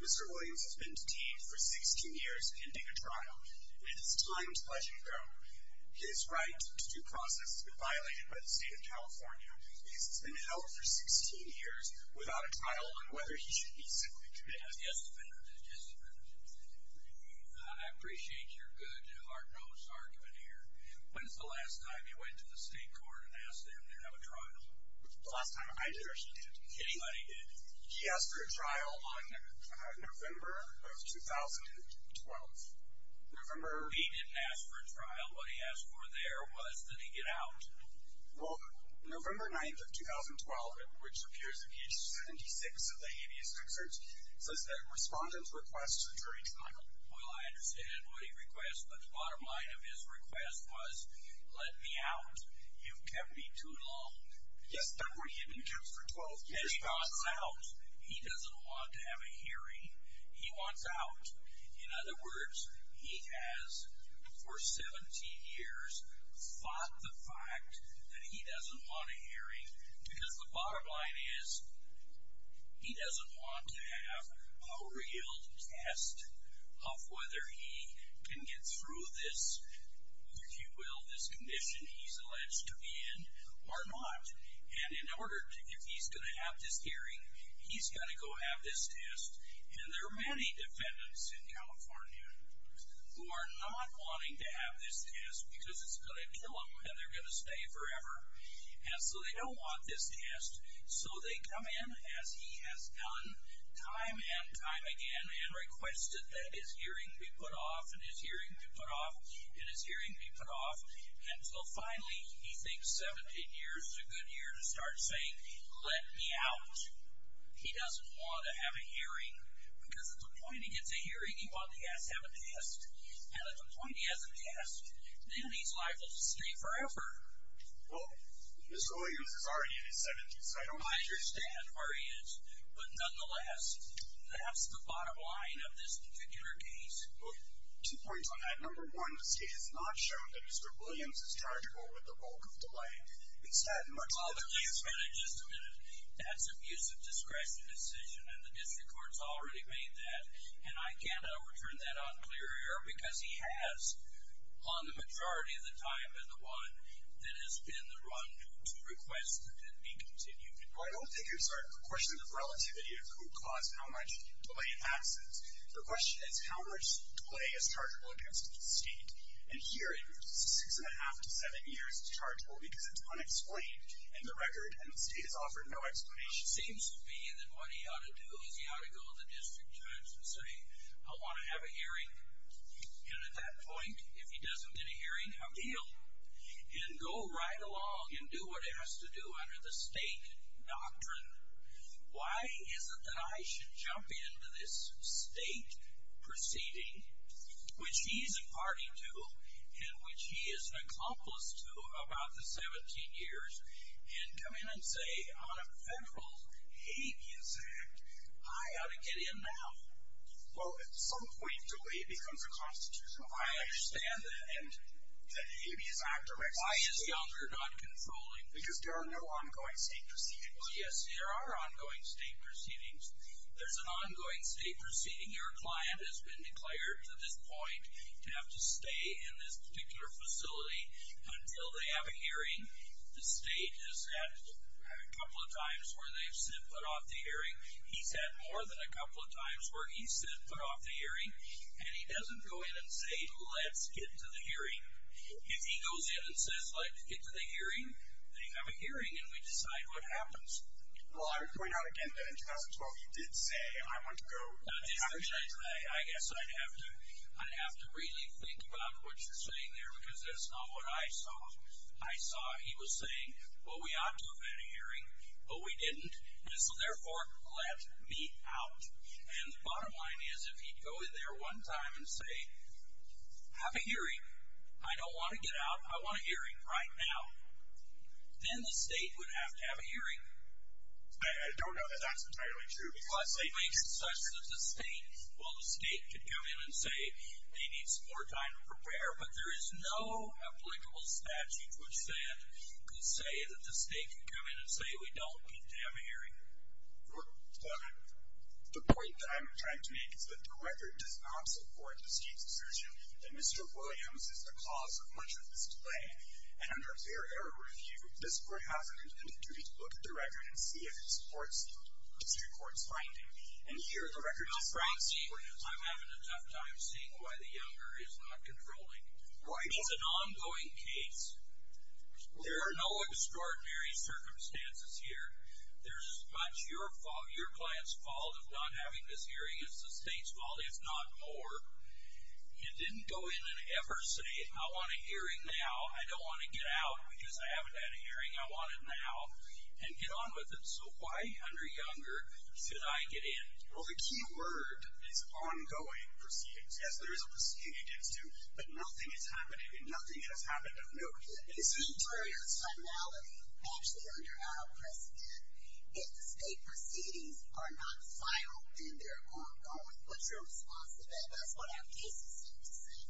Mr. Williams has been detained for 16 years pending a trial. It is time to let you go. His right to due process has been violated by the state of California. He has been held for 16 years without a trial on whether he should be simply convicted. When was the last time you went to the state court and asked them to have a trial? The last time I did or she did? Anybody did. He asked for a trial on November of 2012. He didn't ask for a trial. What he asked for there was that he get out. Well, November 9th of 2012, which appears in page 76 of the habeas excerpt, says that respondents request a jury trial. Well, I understand what he requests, but the bottom line of his request was, let me out. You've kept me too long. Yes, but he had been kept for 12 years. He doesn't want to have a hearing. He wants out. In other words, he has, for 17 years, fought the fact that he doesn't want a hearing. Because the bottom line is, he doesn't want to have a real test of whether he can get through this, if you will, this condition he's alleged to be in or not. And in order, if he's going to have this hearing, he's got to go have this test. And there are many defendants in California who are not wanting to have this test because it's going to kill them and they're going to stay forever. And so they don't want this test. So they come in, as he has done time and time again, and requested that his hearing be put off and his hearing be put off and his hearing be put off. And so finally, he thinks 17 years is a good year to start saying, let me out. He doesn't want to have a hearing because at the point he gets a hearing, he wants to have a test. And at the point he has a test, then he's liable to stay forever. Well, Mr. Williams is already in his 70s, so I don't understand. I understand where he is, but nonetheless, that's the bottom line of this particular case. Two points on that. Number one, the state has not shown that Mr. Williams is chargable with the bulk of the delay. Instead, much of it is. Well, let me just add a minute. That's an abuse of discretion decision, and the district court's already made that. And I can't overturn that on clear air because he has, on the majority of the time, been the one that has been the one to request that it be continued. Well, I don't think it's a question of relativity of who caused how much delay in absence. The question is how much delay is chargable in absence of the state. And here, in six and a half to seven years, it's chargable because it's unexplained in the record, and the state has offered no explanation. It seems to me that what he ought to do is he ought to go to the district judge and say, I want to have a hearing. And at that point, if he doesn't get a hearing, I'm healed. And go right along and do what it has to do under the state doctrine. Why is it that I should jump into this state proceeding, which he's a party to and which he is an accomplice to about the 17 years, and come in and say on a federal habeas act, I ought to get in now? Well, at some point, delay becomes a constitutional violation. I understand that. And the habeas act directly. Why is the elder not controlling this? Because there are no ongoing state proceedings. Yes, there are ongoing state proceedings. There's an ongoing state proceeding. Your client has been declared to this point to have to stay in this particular facility until they have a hearing. The state has had a couple of times where they've said put off the hearing. He's had more than a couple of times where he's said put off the hearing. And he doesn't go in and say, let's get to the hearing. If he goes in and says, let's get to the hearing, then you have a hearing, and we decide what happens. Well, I would point out again that in 2012, you did say, I want to go. I guess I'd have to really think about what you're saying there, because that's not what I saw. I saw he was saying, well, we ought to have had a hearing, but we didn't. And so, therefore, let me out. And the bottom line is, if he'd go in there one time and say, have a hearing. I don't want to get out. I want a hearing right now. Then the state would have to have a hearing. I don't know that that's entirely true. Well, it makes it such that the state could come in and say, they need some more time to prepare. But there is no applicable statute which then could say that the state could come in and say, we don't need to have a hearing. The point that I'm trying to make is that the record does not support the state's decision that Mr. Williams is the cause of much of this delay. And under fair error review, this court has an intended duty to look at the record and see if it supports the district court's finding. And here, the record does not support that. Now, Frank, see, I'm having a tough time seeing why the younger is not controlling. It's an ongoing case. There are no extraordinary circumstances here. There's much your client's fault of not having this hearing is the state's fault, if not more. You didn't go in and ever say, I want a hearing now. I don't want to get out because I haven't had a hearing. I want it now. And get on with it. So why under younger should I get in? Well, the key word is ongoing proceedings. Yes, there is a proceeding against him, but nothing has happened to him. Nothing has happened to him. No. It's an interior finality. Actually, under our precedent, if the state proceedings are not final and they're ongoing, what's your response to that? That's what our cases seem to say.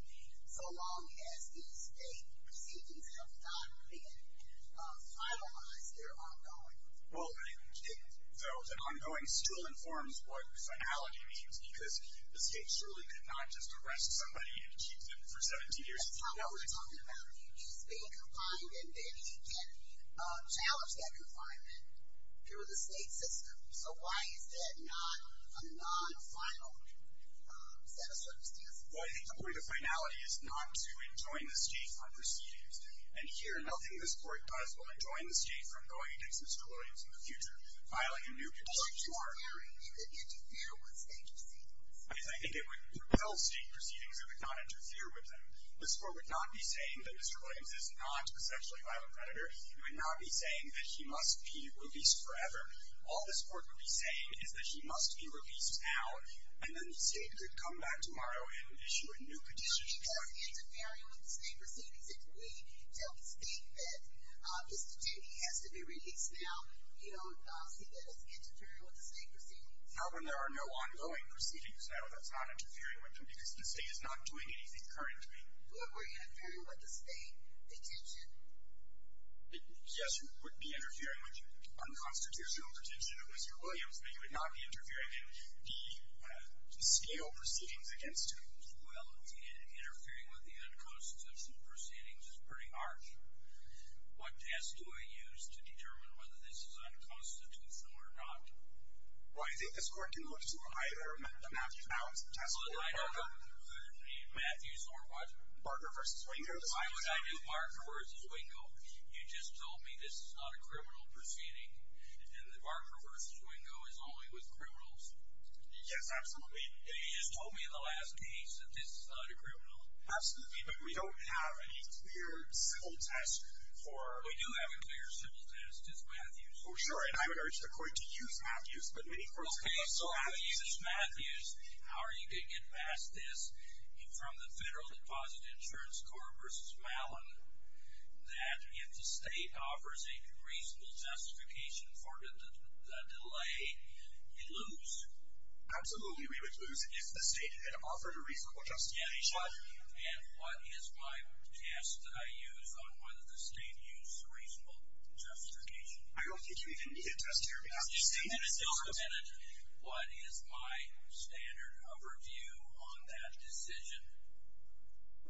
So long as the state proceedings have not been finalized, they're ongoing. Well, though the ongoing still informs what finality means because the state surely could not just arrest somebody and keep them for 17 years. That's not what we're talking about. He's being confined and then he can challenge that confinement through the state system. So why is that not a non-final set of circumstances? Well, I think the point of finality is not to enjoin the state on proceedings. And here, nothing this Court does will enjoin the state from going against Mr. Williams in the future. Filing a new petition to our court. So you're declaring it could interfere with state proceedings? Yes, I think it would repel state proceedings. It would not interfere with them. This Court would not be saying that Mr. Williams is not a sexually violent predator. It would not be saying that he must be released forever. All this Court would be saying is that he must be released now, and then the state could come back tomorrow and issue a new petition. So it does interfere with the state proceedings if we tell the state that Mr. Timmy has to be released now, you don't see that as interfering with the state proceedings? No, when there are no ongoing proceedings. No, that's not interfering with them because the state is not doing anything currently. Or were you interfering with the state petition? Yes, you would be interfering with unconstitutional petition of Mr. Williams, but you would not be interfering in the scale proceedings against him. Well, interfering with the unconstitutional proceedings is pretty harsh. What test do I use to determine whether this is unconstitutional or not? Well, I think this Court can look to either the Matthews-Allens test or Barker. The Matthews or what? Barker versus Williams. Why would I do Barker versus Wingo? You just told me this is not a criminal proceeding, and the Barker versus Wingo is only with criminals. Yes, absolutely. And you just told me in the last case that this is not a criminal. Absolutely, but we don't have any clear civil test for. We do have a clear civil test. It's Matthews. Oh, sure, and I would urge the Court to use Matthews, but many courts are not so Matthews. Okay, so if you use Matthews, how are you going to get past this, from the Federal Deposit Insurance Corp versus Mallin, that if the state offers a reasonable justification for the delay, you lose? Absolutely, we would lose if the state had offered a reasonable justification. And what is my test that I use on whether the state used a reasonable justification? I don't think you even need a test here because the state has used a reasonable justification. What is my standard of review on that decision?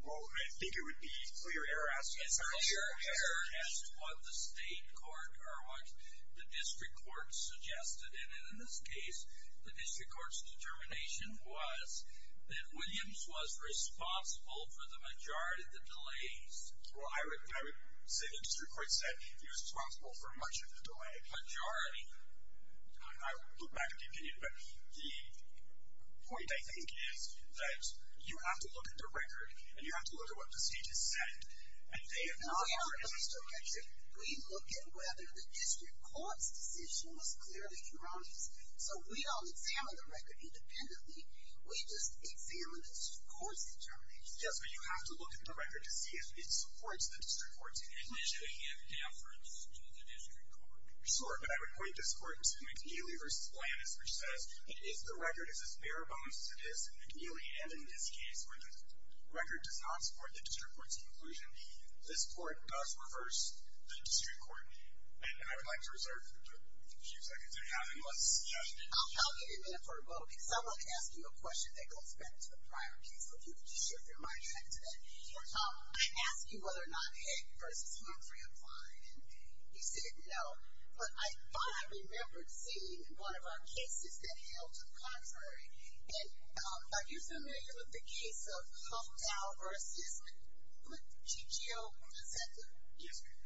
Well, I think it would be clear error as to what the state court or what the district court suggested. And in this case, the district court's determination was that Williams was responsible for the majority of the delays. Well, I would say the district court said he was responsible for much of the delay. The majority, and I would look back at the opinion, but the point I think is that you have to look at the record and you have to look at what the state has said. No, we don't look at the record. We look at whether the district court's decision was clearly erroneous. So we don't examine the record independently. We just examine the district court's determination. Yes, but you have to look at the record to see if it supports the district court's decision. Do we have deference to the district court? Sure, but I would point this court to McNeely v. Flannis, which says if the record is as bare bones to this, McNeely, and in this case where the record does not support the district court's conclusion, this court does reverse the district court. And I would like to reserve a few seconds. Do we have anyone else? Yes. I'll give you a minute for a vote because I want to ask you a question that goes back to the prior case. So if you could just shift your mind back to that. I asked you whether or not Heck v. Humphrey applied, and you said no. But I thought I remembered seeing one of our cases that held to the contrary. And are you familiar with the case of Hufftown v. GGO? Yes, ma'am.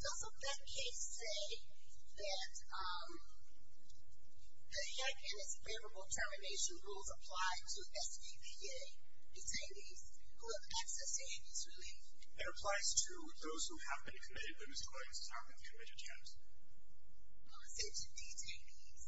Doesn't that case say that the Heck and its favorable termination rules apply to SBVA detainees who have accessed amnesty relief? It applies to those who have been committed, but whose claims have not been committed yet. I said to detainees.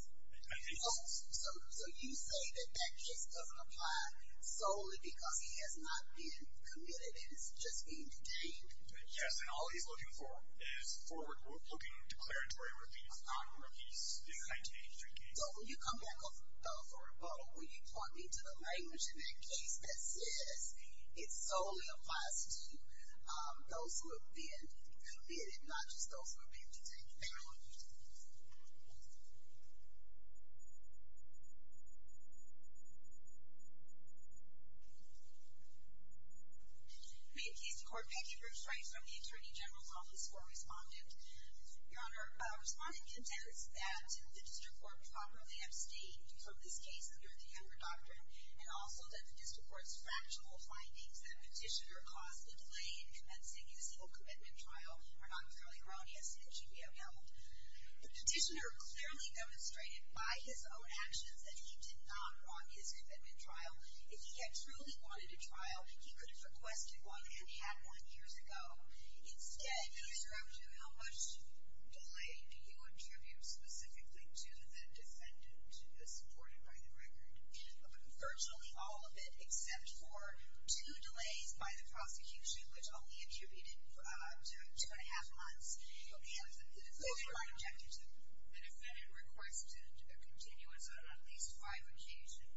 Detainees. So you say that that case doesn't apply solely because he has not been committed and is just being detained? Yes, and all he's looking for is forward-looking declaratory release, not a repeat of 1983 cases. So when you come back for a rebuttal, will you point me to the language in that case that says it solely applies to those who have been committed, not just those who have been detained? Ma'am, Casey Court. Becky Bruce Rice from the Attorney General's Office for Respondent. Your Honor, Respondent contends that the District Court properly abstained from this case under the Younger Doctrine, and also that the District Court's factual findings that Petitioner caused a delay in commencing his single commitment trial are not clearly erroneous in the GGO field. Petitioner clearly demonstrated by his own actions that he did not want his commitment trial. If he had truly wanted a trial, he could have requested one and had one years ago. Instead, how much delay do you attribute specifically to the defendant as supported by the record? Virtually all of it, except for two delays by the prosecution, which only attributed to two and a half months. Who are you objecting to? The defendant requested a continuance on at least five occasions in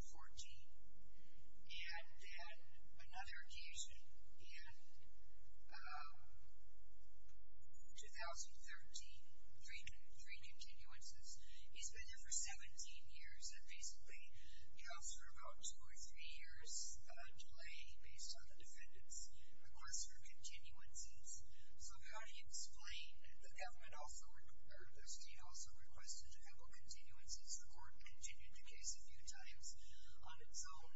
2014, and then another occasion in 2013, three continuances. He's been there for 17 years. That basically counts for about two or three years delay based on the defendant's request for continuances. So how do you explain the state also requested a couple continuances? The court continued the case a few times on its own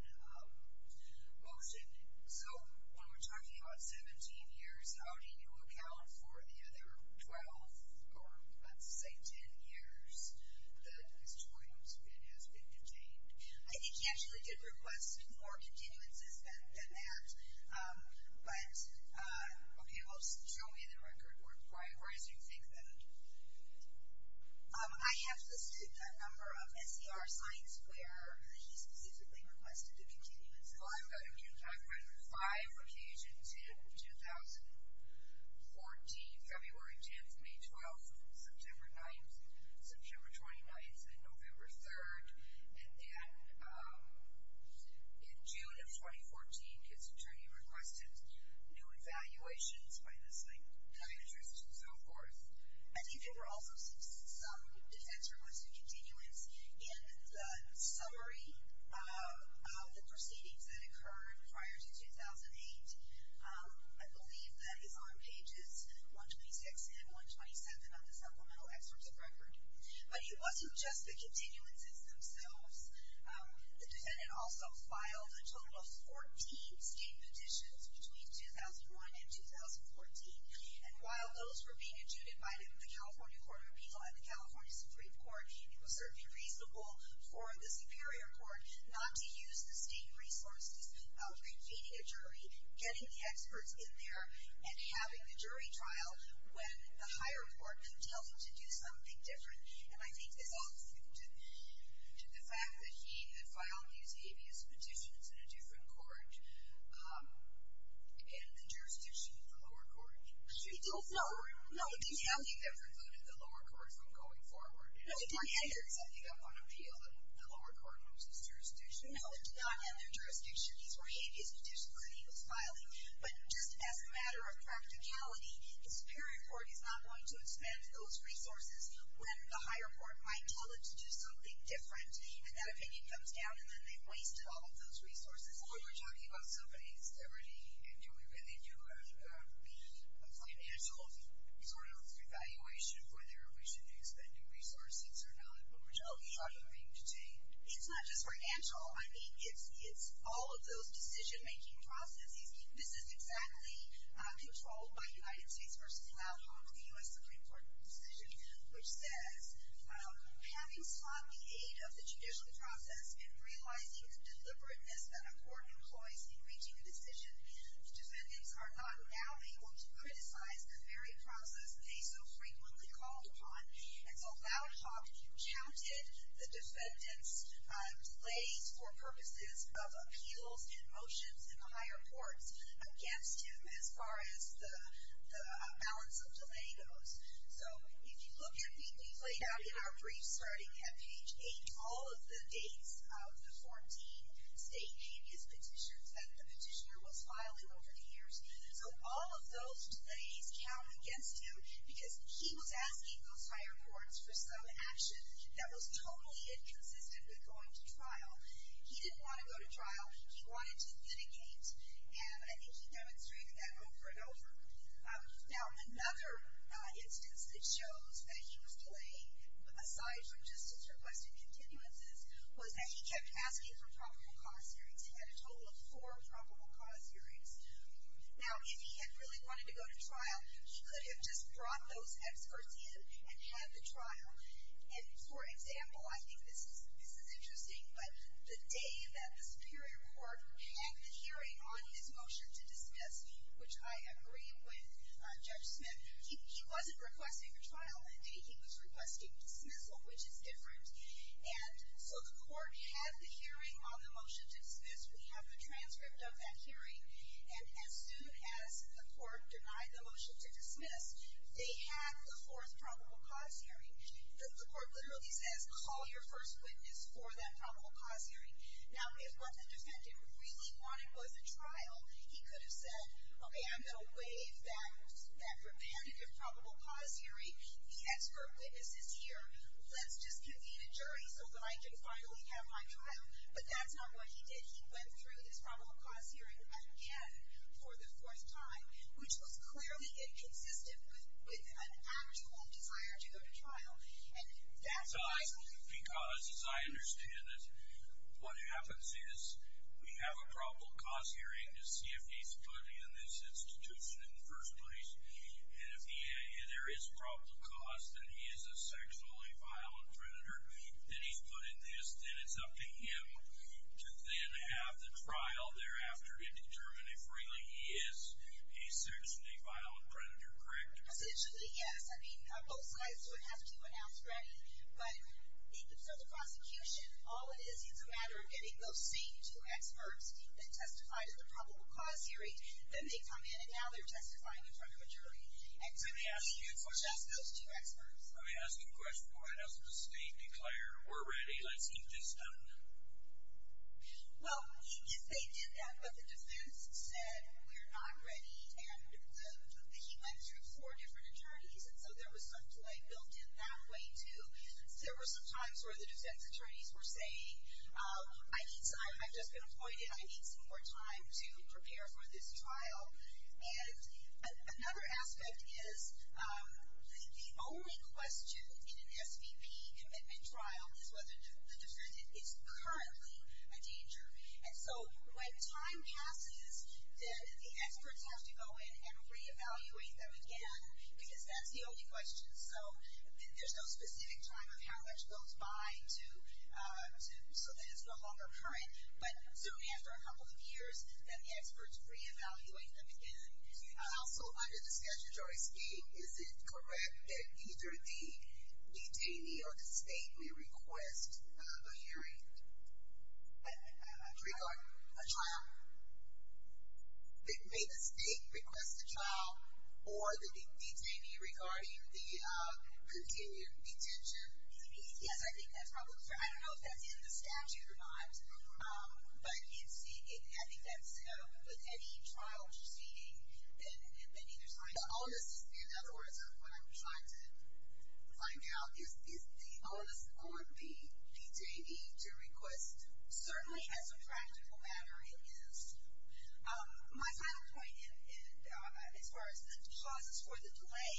motion. So when we're talking about 17 years, how do you account for the other 12 or let's say 10 years that has joined and has been contained? I think he actually did request more continuances than that. But okay, well, show me the record. Why do you think that? I have listed a number of SCR signs where he specifically requested a continuance. Well, I've got a few. I've read five occasions in 2014, February 10th, May 12th, September 9th, September 29th, and November 3rd. And then in June of 2014, I think his attorney requested new evaluations by this, like, psychiatrist and so forth. I think there were also some defense requests for continuance. In the summary of the proceedings that occurred prior to 2008, I believe that is on pages 126 and 127 of the supplemental excerpts of record. But it wasn't just the continuances themselves. The defendant also filed a total of 14 state petitions between 2001 and 2014. And while those were being adjudicated by the California Court of Appeal and the California Supreme Court, it was certainly reasonable for the Superior Court not to use the state resources of convening a jury, getting the experts in there, and having the jury trial when the higher court can tell you to do something different. And I think this all is due to the fact that he had filed these habeas petitions in a different court in the jurisdiction of the lower court. No. No, it didn't. He never voted the lower court from going forward. No, he didn't. It's something up on appeal that the lower court knows his jurisdiction. No, it did not have their jurisdiction. These were habeas petitions that he was filing. But just as a matter of practicality, the Superior Court is not going to expend those resources when the higher court might tell it to do something different. And that opinion comes down, and then they've wasted all of those resources. But we're talking about somebody's liberty. And do we really do a financial sort of evaluation of whether we should be expending resources or not when we're talking about being detained? It's not just financial. I mean, it's all of those decision-making processes. This is exactly controlled by United States v. Loudhock, the U.S. Supreme Court decision, which says, having sought the aid of the judicial process and realizing the deliberateness that a court employs in reaching a decision, defendants are not now able to criticize the very process they so frequently called upon. And so Loudhock counted the defendants' delays for purposes of appeals and reports against him as far as the balance of delay goes. So if you look at what we played out in our brief starting at page 8, all of the dates of the 14 state habeas petitions that the petitioner was filing over the years. So all of those delays count against him because he was asking those higher courts for some action that was totally inconsistent with going to trial. He didn't want to go to trial. He wanted to mitigate. And I think he demonstrated that over and over. Now, another instance that shows that he was delaying, aside from just his requested continuances, was that he kept asking for probable cause hearings. He had a total of four probable cause hearings. Now, if he had really wanted to go to trial, he could have just brought those experts in and had the trial. And, for example, I think this is interesting, but the day that the superior court had the hearing on his motion to dismiss, which I agree with Judge Smith, he wasn't requesting a trial that day. He was requesting dismissal, which is different. And so the court had the hearing on the motion to dismiss. We have the transcript of that hearing. And as soon as the court denied the motion to dismiss, they had the fourth probable cause hearing. The court literally says, call your first witness for that probable cause hearing. Now, if what the defendant really wanted was a trial, he could have said, okay, I'm going to waive that repetitive probable cause hearing. The expert witness is here. Let's just convene a jury so that I can finally have my trial. But that's not what he did. He went through this probable cause hearing again for the fourth time, which was clearly inconsistent with an actual desire to go to trial. And that's why. Because, as I understand it, what happens is we have a probable cause hearing to see if he's put in this institution in the first place. And if there is probable cause that he is a sexually violent predator, that he's put in this, then it's up to him to then have the trial thereafter to determine if really he is a sexually violent predator. Correct? Essentially, yes. I mean, both sides would have to announce ready. But for the prosecution, all it is, it's a matter of getting those same two experts that testified at the probable cause hearing. Then they come in, and now they're testifying in front of a jury. And typically, it's just those two experts. Let me ask you a question. Why hasn't the state declared, we're ready, let's get this done? Well, they did that, but the defense said, we're not ready. And he went through four different attorneys, and so there was some delay built in that way, too. There were some times where the defense attorneys were saying, I've just been appointed, I need some more time to prepare for this trial. And another aspect is, the only question in an SVP commitment trial is whether the defendant is currently a danger. And so when time passes, then the experts have to go in and re-evaluate them again, because that's the only question. So there's no specific time of how much goes by so that it's no longer current. But soon after a couple of years, then the experts re-evaluate them again. Also, under the statutory scheme, is it correct that either the detainee or the state may request a hearing regarding a trial? May the state request a trial or the detainee regarding the continued detention? Yes, I think that's probably true. I don't know if that's in the statute or not, but I think that's with any trial proceeding that either side is honest. In other words, what I'm trying to find out is, is the onus on the detainee to request? Certainly, as a practical matter, it is. My final point as far as the clauses for the delay,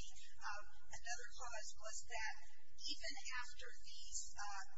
another clause was that even after these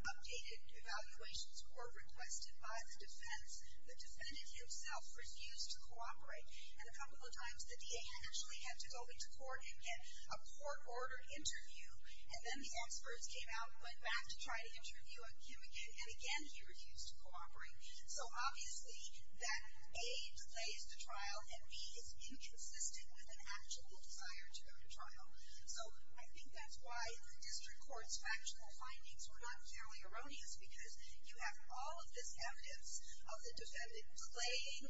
updated evaluations were requested by the defense, the defendant himself refused to cooperate. And a couple of times, the DA actually had to go into court and get a court-ordered interview, and then the experts came out, went back to try to interview him again, and again he refused to cooperate. So obviously, that A, delays the trial, and B, is inconsistent with an actual desire to go to trial. So I think that's why the district court's factual findings were not clearly erroneous, because you have all of this evidence of the defendant playing,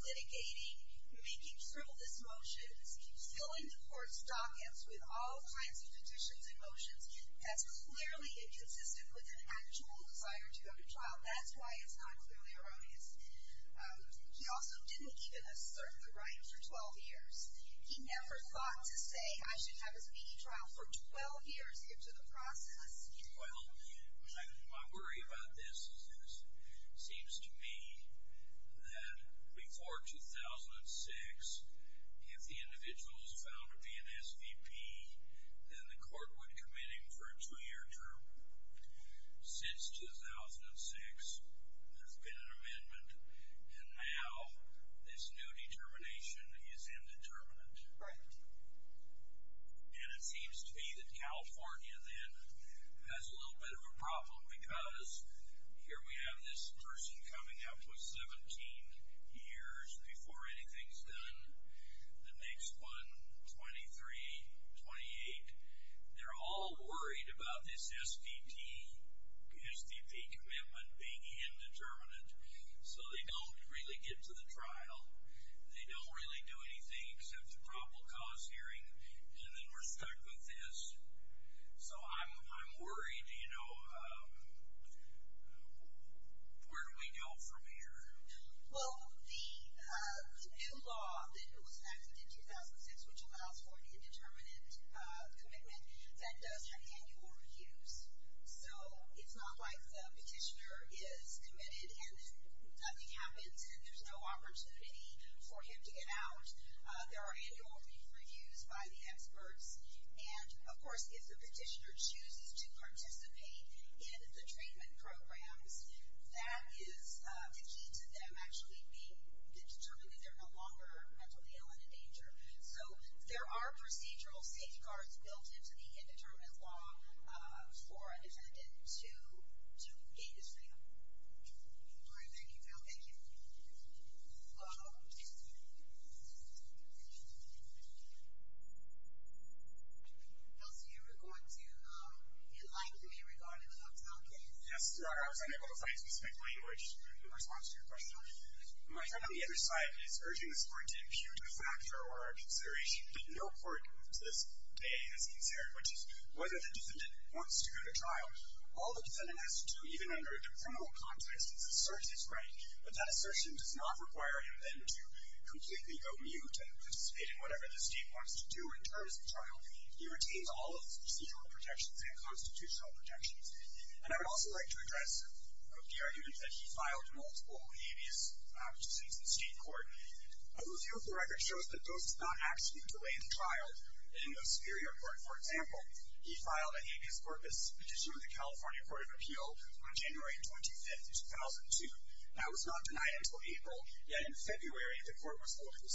litigating, making frivolous motions, filling the court's dockets with all kinds of petitions and motions that's clearly inconsistent with an actual desire to go to trial. That's why it's not clearly erroneous. He also didn't even assert the right for 12 years. He never thought to say, I should have this meeting trial for 12 years into the process. Well, my worry about this is, it seems to me that before 2006, if the individual was found to be an SVP, then the court would commit him for a two-year term. Since 2006, there's been an amendment, and now this new determination is indeterminate. Right. And it seems to me that California then has a little bit of a problem, because here we have this person coming up with 17 years before anything's done. The next one, 23, 28. They're all worried about this SVP commitment being indeterminate, so they don't really get to the trial. They don't really do anything except the probable cause hearing, and then we're stuck with this. So I'm worried. Where do we go from here? Well, the new law that was enacted in 2006, which allows for an indeterminate commitment, that does have annual reviews. So it's not like the petitioner is committed and nothing happens and there's no opportunity for him to get out. There are annual reviews by the experts, and, of course, if the petitioner chooses to participate in the treatment programs, that is the key to them actually being determined that they're no longer mentally ill and in danger. So there are procedural safeguards built into the indeterminate law for a defendant to engage them. All right. Thank you, Phil. Thank you. Kelsey, you were going to enlighten me regarding the hotel case. Yes, sir. I was unable to find a specific language in response to your question. My friend on the other side is urging the court to impute a factor or a consideration that no court to this day has considered, which is whether the defendant wants to go to trial. All the defendant has to do, even under a criminal context, is assert his right, but that assertion does not require him then to completely go mute and participate in whatever the state wants to do in terms of trial. He retains all of his procedural protections and constitutional protections. And I would also like to address the argument that he filed multiple habeas petitions in state court. A review of the record shows that those have not actually delayed the trial. In the Superior Court, for example, he filed a habeas corpus petition with the California Court of Appeal on January 25, 2002. That was not denied until April. Yet in February, the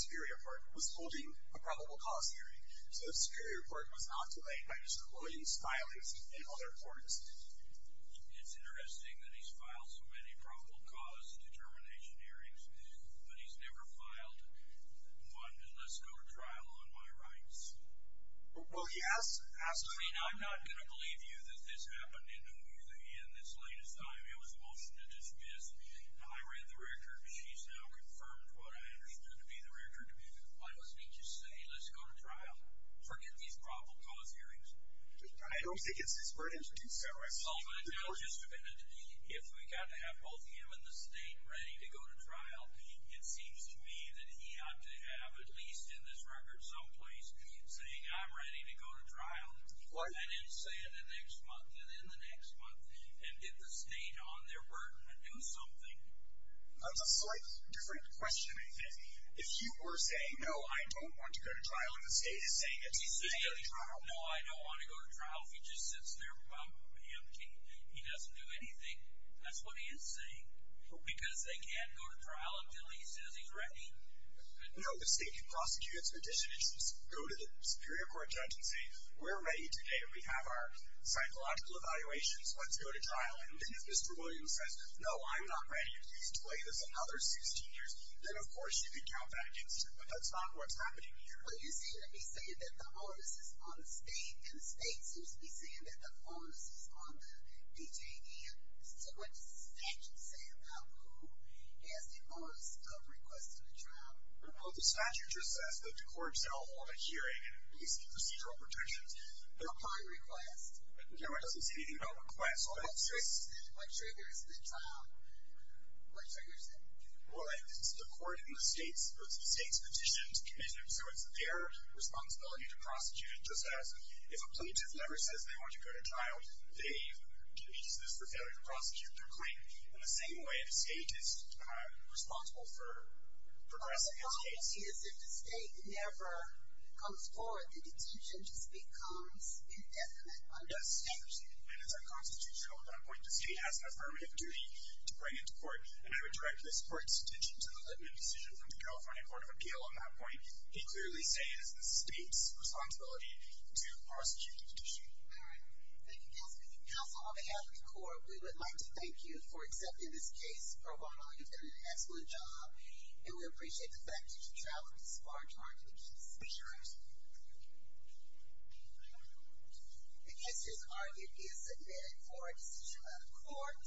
Superior Court was holding a probable cause hearing. So the Superior Court was not delayed by Mr. Williams' filings in other courts. It's interesting that he's filed so many probable cause determination hearings, but he's never filed one to let's go to trial on my rights. Well, he has, absolutely. I mean, I'm not going to believe you that this happened in the movie in this latest time. It was a motion to dismiss. I read the record. She's now confirmed what I understood to be the record. Why don't we just say let's go to trial? Forget these probable cause hearings. I don't think it's his burden to do so. Oh, but no, just a minute. If we got to have both him and the state ready to go to trial, it seems to me that he ought to have at least in this record someplace saying, I'm ready to go to trial. And then say it the next month, and then the next month, and get the state on their burden and do something. That's a slightly different question, I think. If you were saying, no, I don't want to go to trial, and the state is saying that he's ready to go to trial. He's saying, no, I don't want to go to trial. If he just sits there and he doesn't do anything, that's what he is saying. Because they can't go to trial until he says he's ready. No, the state can prosecute its petition and go to the Superior Court judge and say, we're ready today. We have our psychological evaluations. Let's go to trial. And then if Mr. Williams says, no, I'm not ready. If he's delayed us another 16 years, then, of course, you can count that against him. But that's not what's happening here. But you seem to be saying that the onus is on the state, and the state seems to be saying that the onus is on the DJD. So what does the statute say about who has the onus of requesting a trial? Well, the statute just says that the court shall hold a hearing and receive procedural protections. No prior request. I don't care what it says, anything about request. So what triggers the trial? What triggers it? Well, it's the court and the state's petition to commission it. So it's their responsibility to prosecute it. Just as if a plaintiff never says they want to go to trial, they can use this for failure to prosecute their claim. In the same way, the state is responsible for progressing against states. But the problem is if the state never comes forward, the detention just becomes indefinite under statute. And it's unconstitutional at that point. The state has an affirmative duty to bring it to court, and I would direct this court's attention to the litman's decision from the California Court of Appeal on that point. He clearly says it's the state's responsibility to prosecute the petition. All right. Thank you, Counsel. Counsel, on behalf of the court, we would like to thank you for accepting this case. Pro Bono, you've done an excellent job. And we appreciate the fact that you traveled this far to argue the case. Sure. Any other questions? The case is argued. It is submitted for a decision by the court.